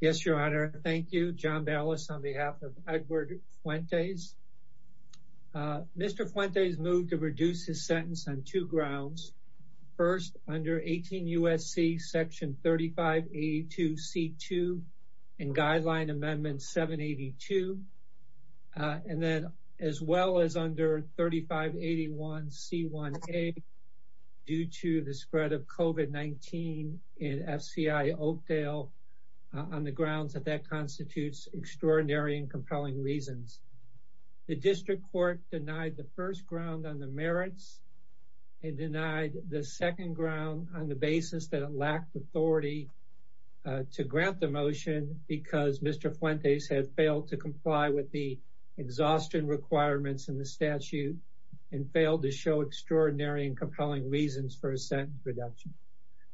Yes, your honor. Thank you. John Ballas on behalf of Edward Fuentes. Mr. Fuentes moved to reduce his sentence on two grounds. First, under 18 U.S.C. Section 3582 C.2 and Guideline Amendment 782, and then as well as under 3581 C.1a due to the spread of COVID-19 in F.C.I. Oakdale on the grounds that that constitutes extraordinary and compelling reasons. The District Court denied the first ground on the merits and denied the second ground on the basis that it lacked authority to grant the motion because Mr. Fuentes had failed to comply with the exhaustion requirements in the statute and failed to show extraordinary and compelling reasons for a sentence reduction.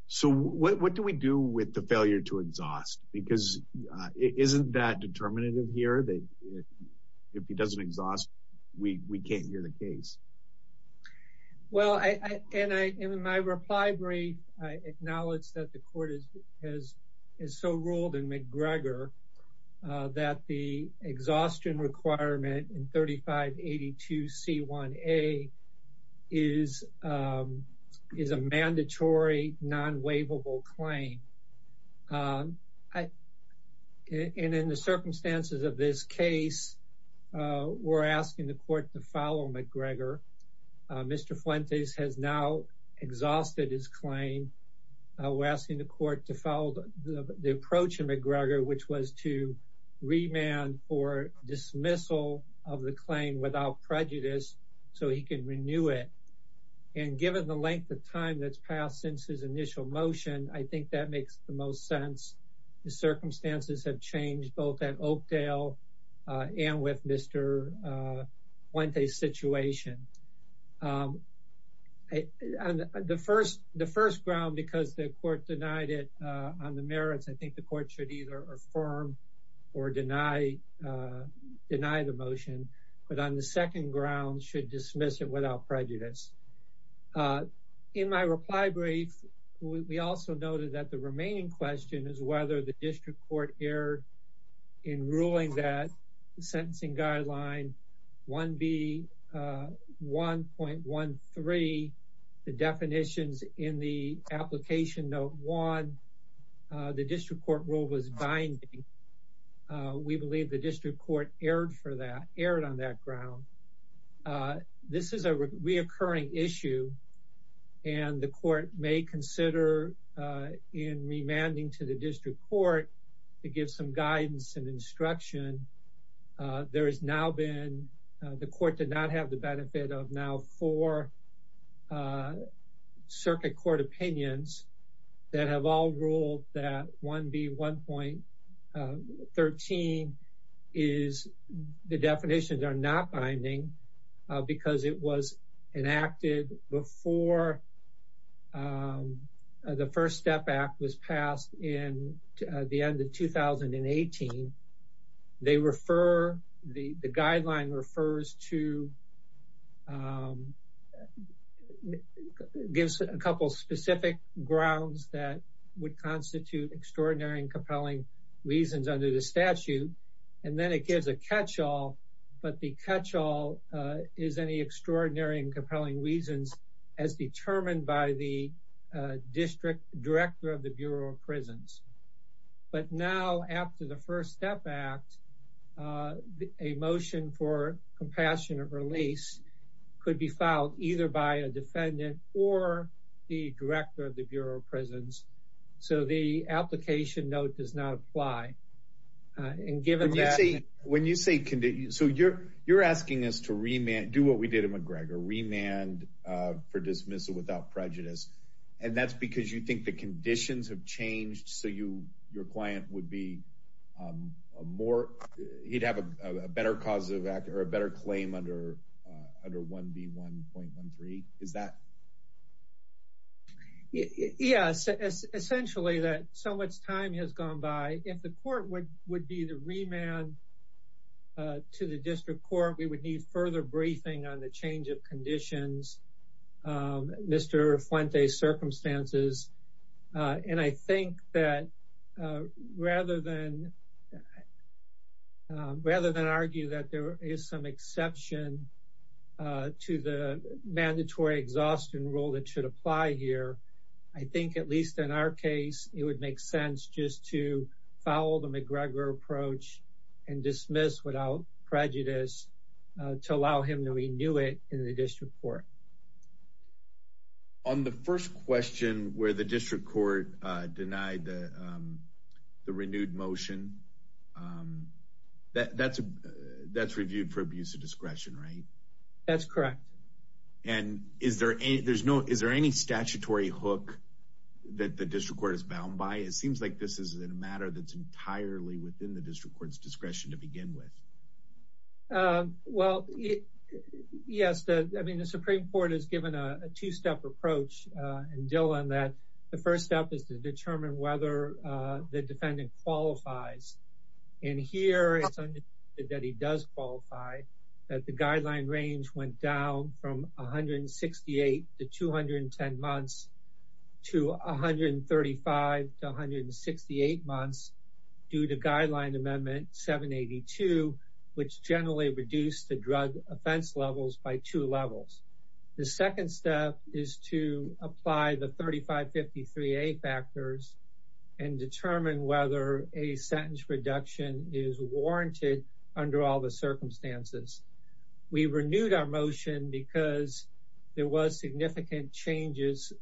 So, what do we do with the failure to exhaust? Because isn't that determinative here that if he doesn't exhaust, we can't hear the case? Well, in my reply brief, I acknowledge that the court has so ruled in McGregor that the is a mandatory non-waivable claim. And in the circumstances of this case, we're asking the court to follow McGregor. Mr. Fuentes has now exhausted his claim. We're asking the court to follow the approach in McGregor, which was to remand for dismissal of the claim without prejudice so he can renew it. And given the length of time that's passed since his initial motion, I think that makes the most sense. The circumstances have changed both at Oakdale and with Mr. Fuentes' situation. The first ground, because the court denied it on the merits, I think the court should either affirm or deny the motion. But on the second ground, should dismiss it without prejudice. In my reply brief, we also noted that the remaining question is whether the district court erred in ruling that the sentencing guideline 1B1.13, the definitions in the application note 1, the district court rule was binding. We believe the district court erred for that, erred on that ground. This is a reoccurring issue, and the court may consider in remanding to the district court to give some guidance and instruction. There has now been, the court did not have the benefit of now four circuit court opinions that have all ruled that 1B1.13 is, the definitions are not binding because it was enacted before the First Step Act was passed, which gives a couple specific grounds that would constitute extraordinary and compelling reasons under the statute. And then it gives a catch-all, but the catch-all is any extraordinary and compelling reasons as determined by the district director of the Bureau of Prisons. But now after the First Step Act, a motion for compassionate release could be filed either by a defendant or the director of the Bureau of Prisons. So the application note does not apply. And given that, when you say, so you're, you're asking us to remand, do what we did in McGregor, remand for dismissal without prejudice. And that's because you think the conditions have your client would be a more, he'd have a better causative act or a better claim under 1B1.13, is that? Yes, essentially that so much time has gone by. If the court would be the remand to the district court, we would need further briefing on the change of conditions, Mr. Fuente's circumstances. And I think that rather than, rather than argue that there is some exception to the mandatory exhaustion rule that should apply here, I think at least in our case, it would make sense just to follow the McGregor approach and dismiss without prejudice to allow him to renew it in the district court. On the first question where the district court denied the renewed motion, that's reviewed for abuse of discretion, right? That's correct. And is there any, there's no, is there any statutory hook that the district court is bound by? It seems like this is a matter that's entirely within the district court's discretion to begin with. Well, yes. I mean, the Supreme Court has given a two-step approach in Dillon that the first step is to determine whether the defendant qualifies. And here it's understood that he does qualify, that the due to guideline amendment 782, which generally reduced the drug offense levels by two levels. The second step is to apply the 3553A factors and determine whether a sentence reduction is warranted under all the circumstances. We renewed our motion because there was significant changes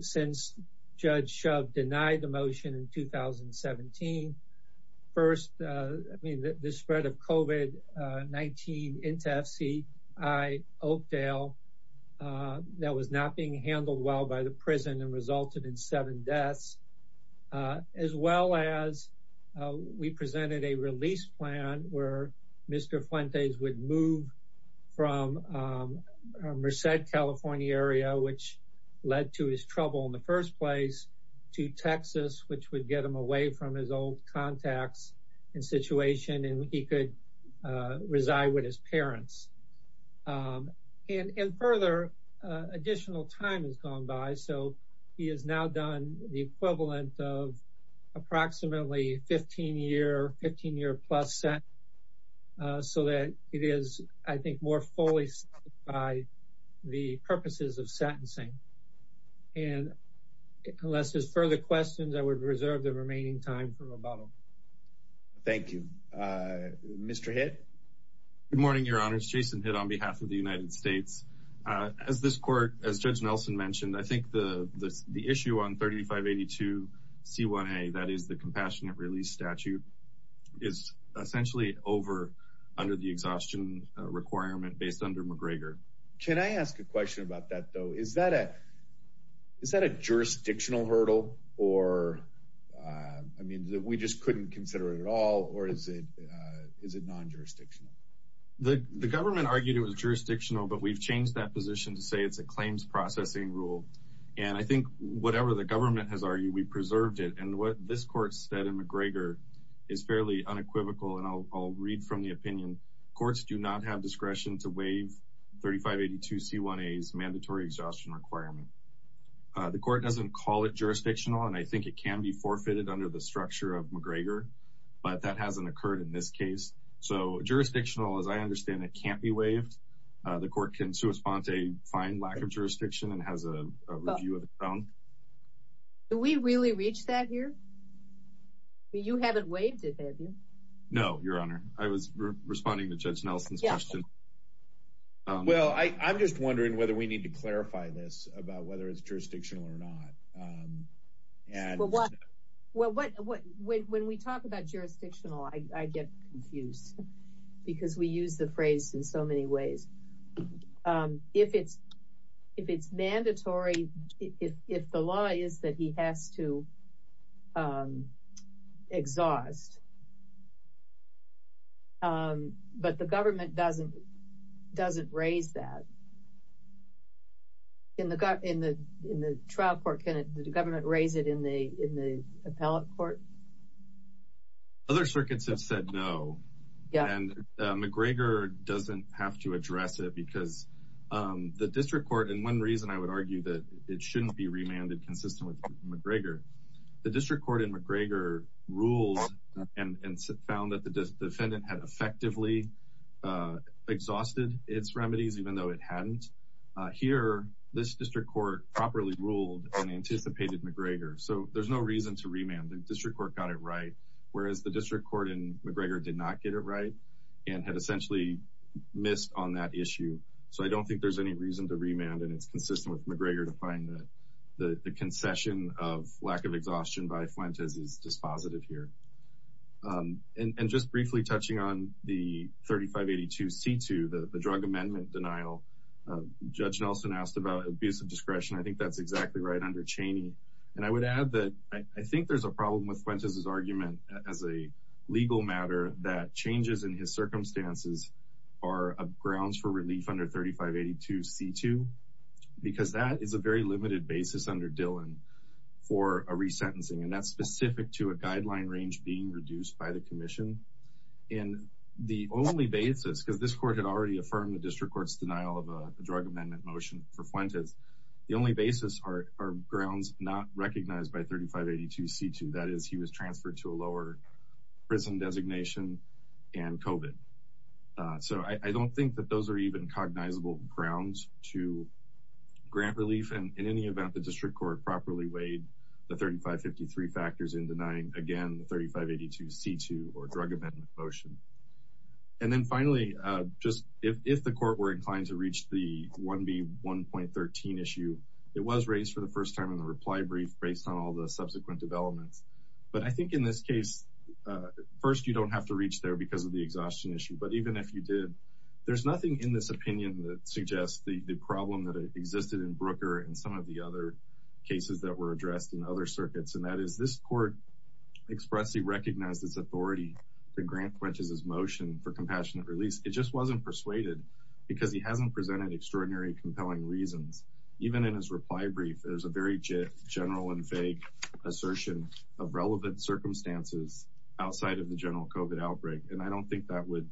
since Judge Shove denied the motion in 2017. First, I mean, the spread of COVID-19 into FCI Oakdale that was not being handled well by the prison and resulted in seven deaths, as well as we presented a release plan where Mr. Fuentes would move from Merced, California area, which led to his trouble in the first place, to Texas, which would get him away from his old contacts and situation, and he could reside with his parents. And further, additional time has gone by. So he has now done the equivalent of approximately 15 year, 15 year plus sentence, so that it is, I think, more fully by the purposes of sentencing. And unless there's further questions, I would reserve the remaining time for rebuttal. Thank you. Mr. Hitt? Good morning, Your Honors. Jason Hitt on behalf of the United States. As this court, as Judge Nelson mentioned, I think the issue on 3582C1A, that is the compassionate release statute, is essentially over under the exhaustion requirement based under McGregor. Can I ask a question about that, though? Is that a jurisdictional hurdle? Or, I mean, we just couldn't consider it at all? Or is it non-jurisdictional? The government argued it was jurisdictional, but we've changed that position to say it's a claims processing rule. And I think whatever the government has argued, we preserved it. And what this court said in McGregor is fairly unequivocal, and I'll read from the opinion. Courts do not have discretion to waive 3582C1A's mandatory exhaustion requirement. The court doesn't call it jurisdictional, and I think it can be forfeited under the structure of McGregor, but that hasn't occurred in this case. So jurisdictional, as I understand it, can't be waived. The court can correspond to a fine lack of jurisdiction and has a review of the You haven't waived it, have you? No, Your Honor. I was responding to Judge Nelson's question. Well, I'm just wondering whether we need to clarify this about whether it's jurisdictional or not. Well, when we talk about jurisdictional, I get confused because we use the phrase in so exhaust. But the government doesn't raise that. In the trial court, can the government raise it in the appellate court? Other circuits have said no, and McGregor doesn't have to address it because the district court, and one reason I would argue that it shouldn't be remanded consistent with McGregor, the district court in McGregor ruled and found that the defendant had effectively exhausted its remedies even though it hadn't. Here, this district court properly ruled and anticipated McGregor. So there's no reason to remand. The district court got it right, whereas the district court in McGregor did not get it right and had essentially missed on that issue. So I don't think there's any reason to remand and it's consistent with McGregor to find that the concession of lack of exhaustion by Fuentes is dispositive here. And just briefly touching on the 3582C2, the drug amendment denial, Judge Nelson asked about abuse of discretion. I think that's exactly right under Cheney. And I would add that I think there's a problem with Fuentes' argument as a legal matter that changes in his circumstances are grounds for relief under 3582C2 because that is a very limited basis under Dillon for a resentencing, and that's specific to a guideline range being reduced by the commission. And the only basis, because this court had already affirmed the district court's denial of a drug amendment motion for Fuentes, the only basis are grounds not recognized by 3582C2. That is, he was transferred to a lower prison designation and COVID. So I don't think that those are even cognizable grounds to grant relief. And in any event, the district court properly weighed the 3553 factors in denying, again, the 3582C2 or drug amendment motion. And then finally, just if the court were inclined to reach the 1B1.13 issue, it was raised for the first time in the reply brief based on all the subsequent developments. But I think in this case, first, you don't have to reach there because of the exhaustion issue. But even if you did, there's nothing in this opinion that suggests the problem that existed in Brooker and some of the other cases that were addressed in other circuits. And that is this court expressly recognized its authority to grant Fuentes' motion for extraordinary, compelling reasons. Even in his reply brief, there's a very general and vague assertion of relevant circumstances outside of the general COVID outbreak. And I don't think that would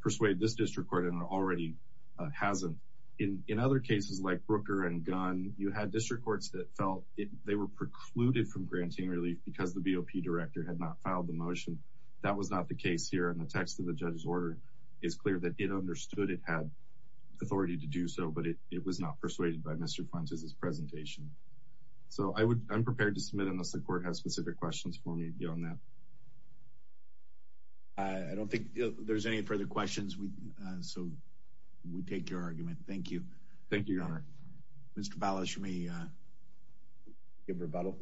persuade this district court and it already hasn't. In other cases like Brooker and Gunn, you had district courts that felt they were precluded from granting relief because the BOP director had not filed the motion. That was not the case here. And the text of the judge's order is clear that it understood it had authority to do so, but it was not persuaded by Mr. Fuentes' presentation. So I'm prepared to submit unless the court has specific questions for me beyond that. I don't think there's any further questions. So we take your argument. Thank you. Thank you, Your Honor. Mr. Ballas, you may give rebuttal.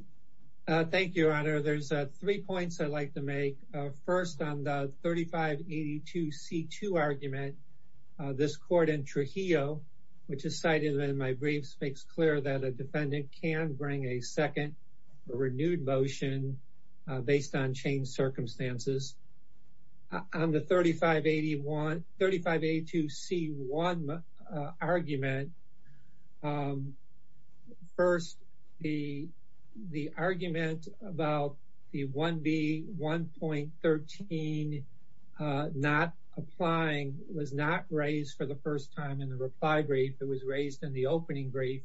Thank you, Your Honor. There's three points I'd like to make. First, on the 3582C2 argument, this court in Trujillo, which is cited in my briefs, makes clear that a defendant can bring a second or renewed motion based on changed circumstances. On the 3582C1 argument, first, the argument about the 1B1.13 not applying was not raised for the first time in the reply brief. It was raised in the opening brief.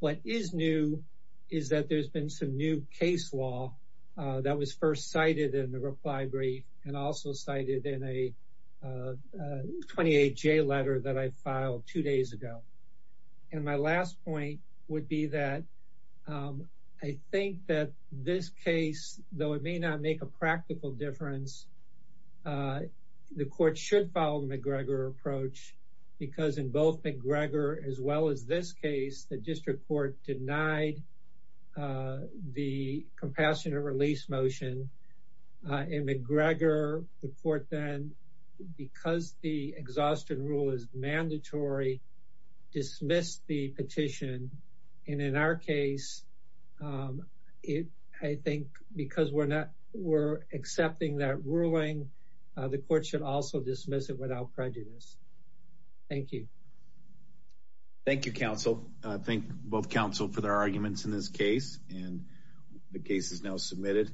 What is new is that there's been some new case law that was first cited in the reply brief and also cited in a 28J letter that I filed two days ago. And my last point would be that I think that this case, though it may not make a practical difference, the court should follow the McGregor approach because in both McGregor as well as this case, the district court denied the compassionate release motion. In McGregor, the court then, because the exhaustion rule is mandatory, dismissed the petition. And in our case, I think because we're accepting that ruling, the court should also dismiss it without prejudice. Thank you. Thank you, counsel. I thank both counsel for their arguments in this case, and the case is now submitted.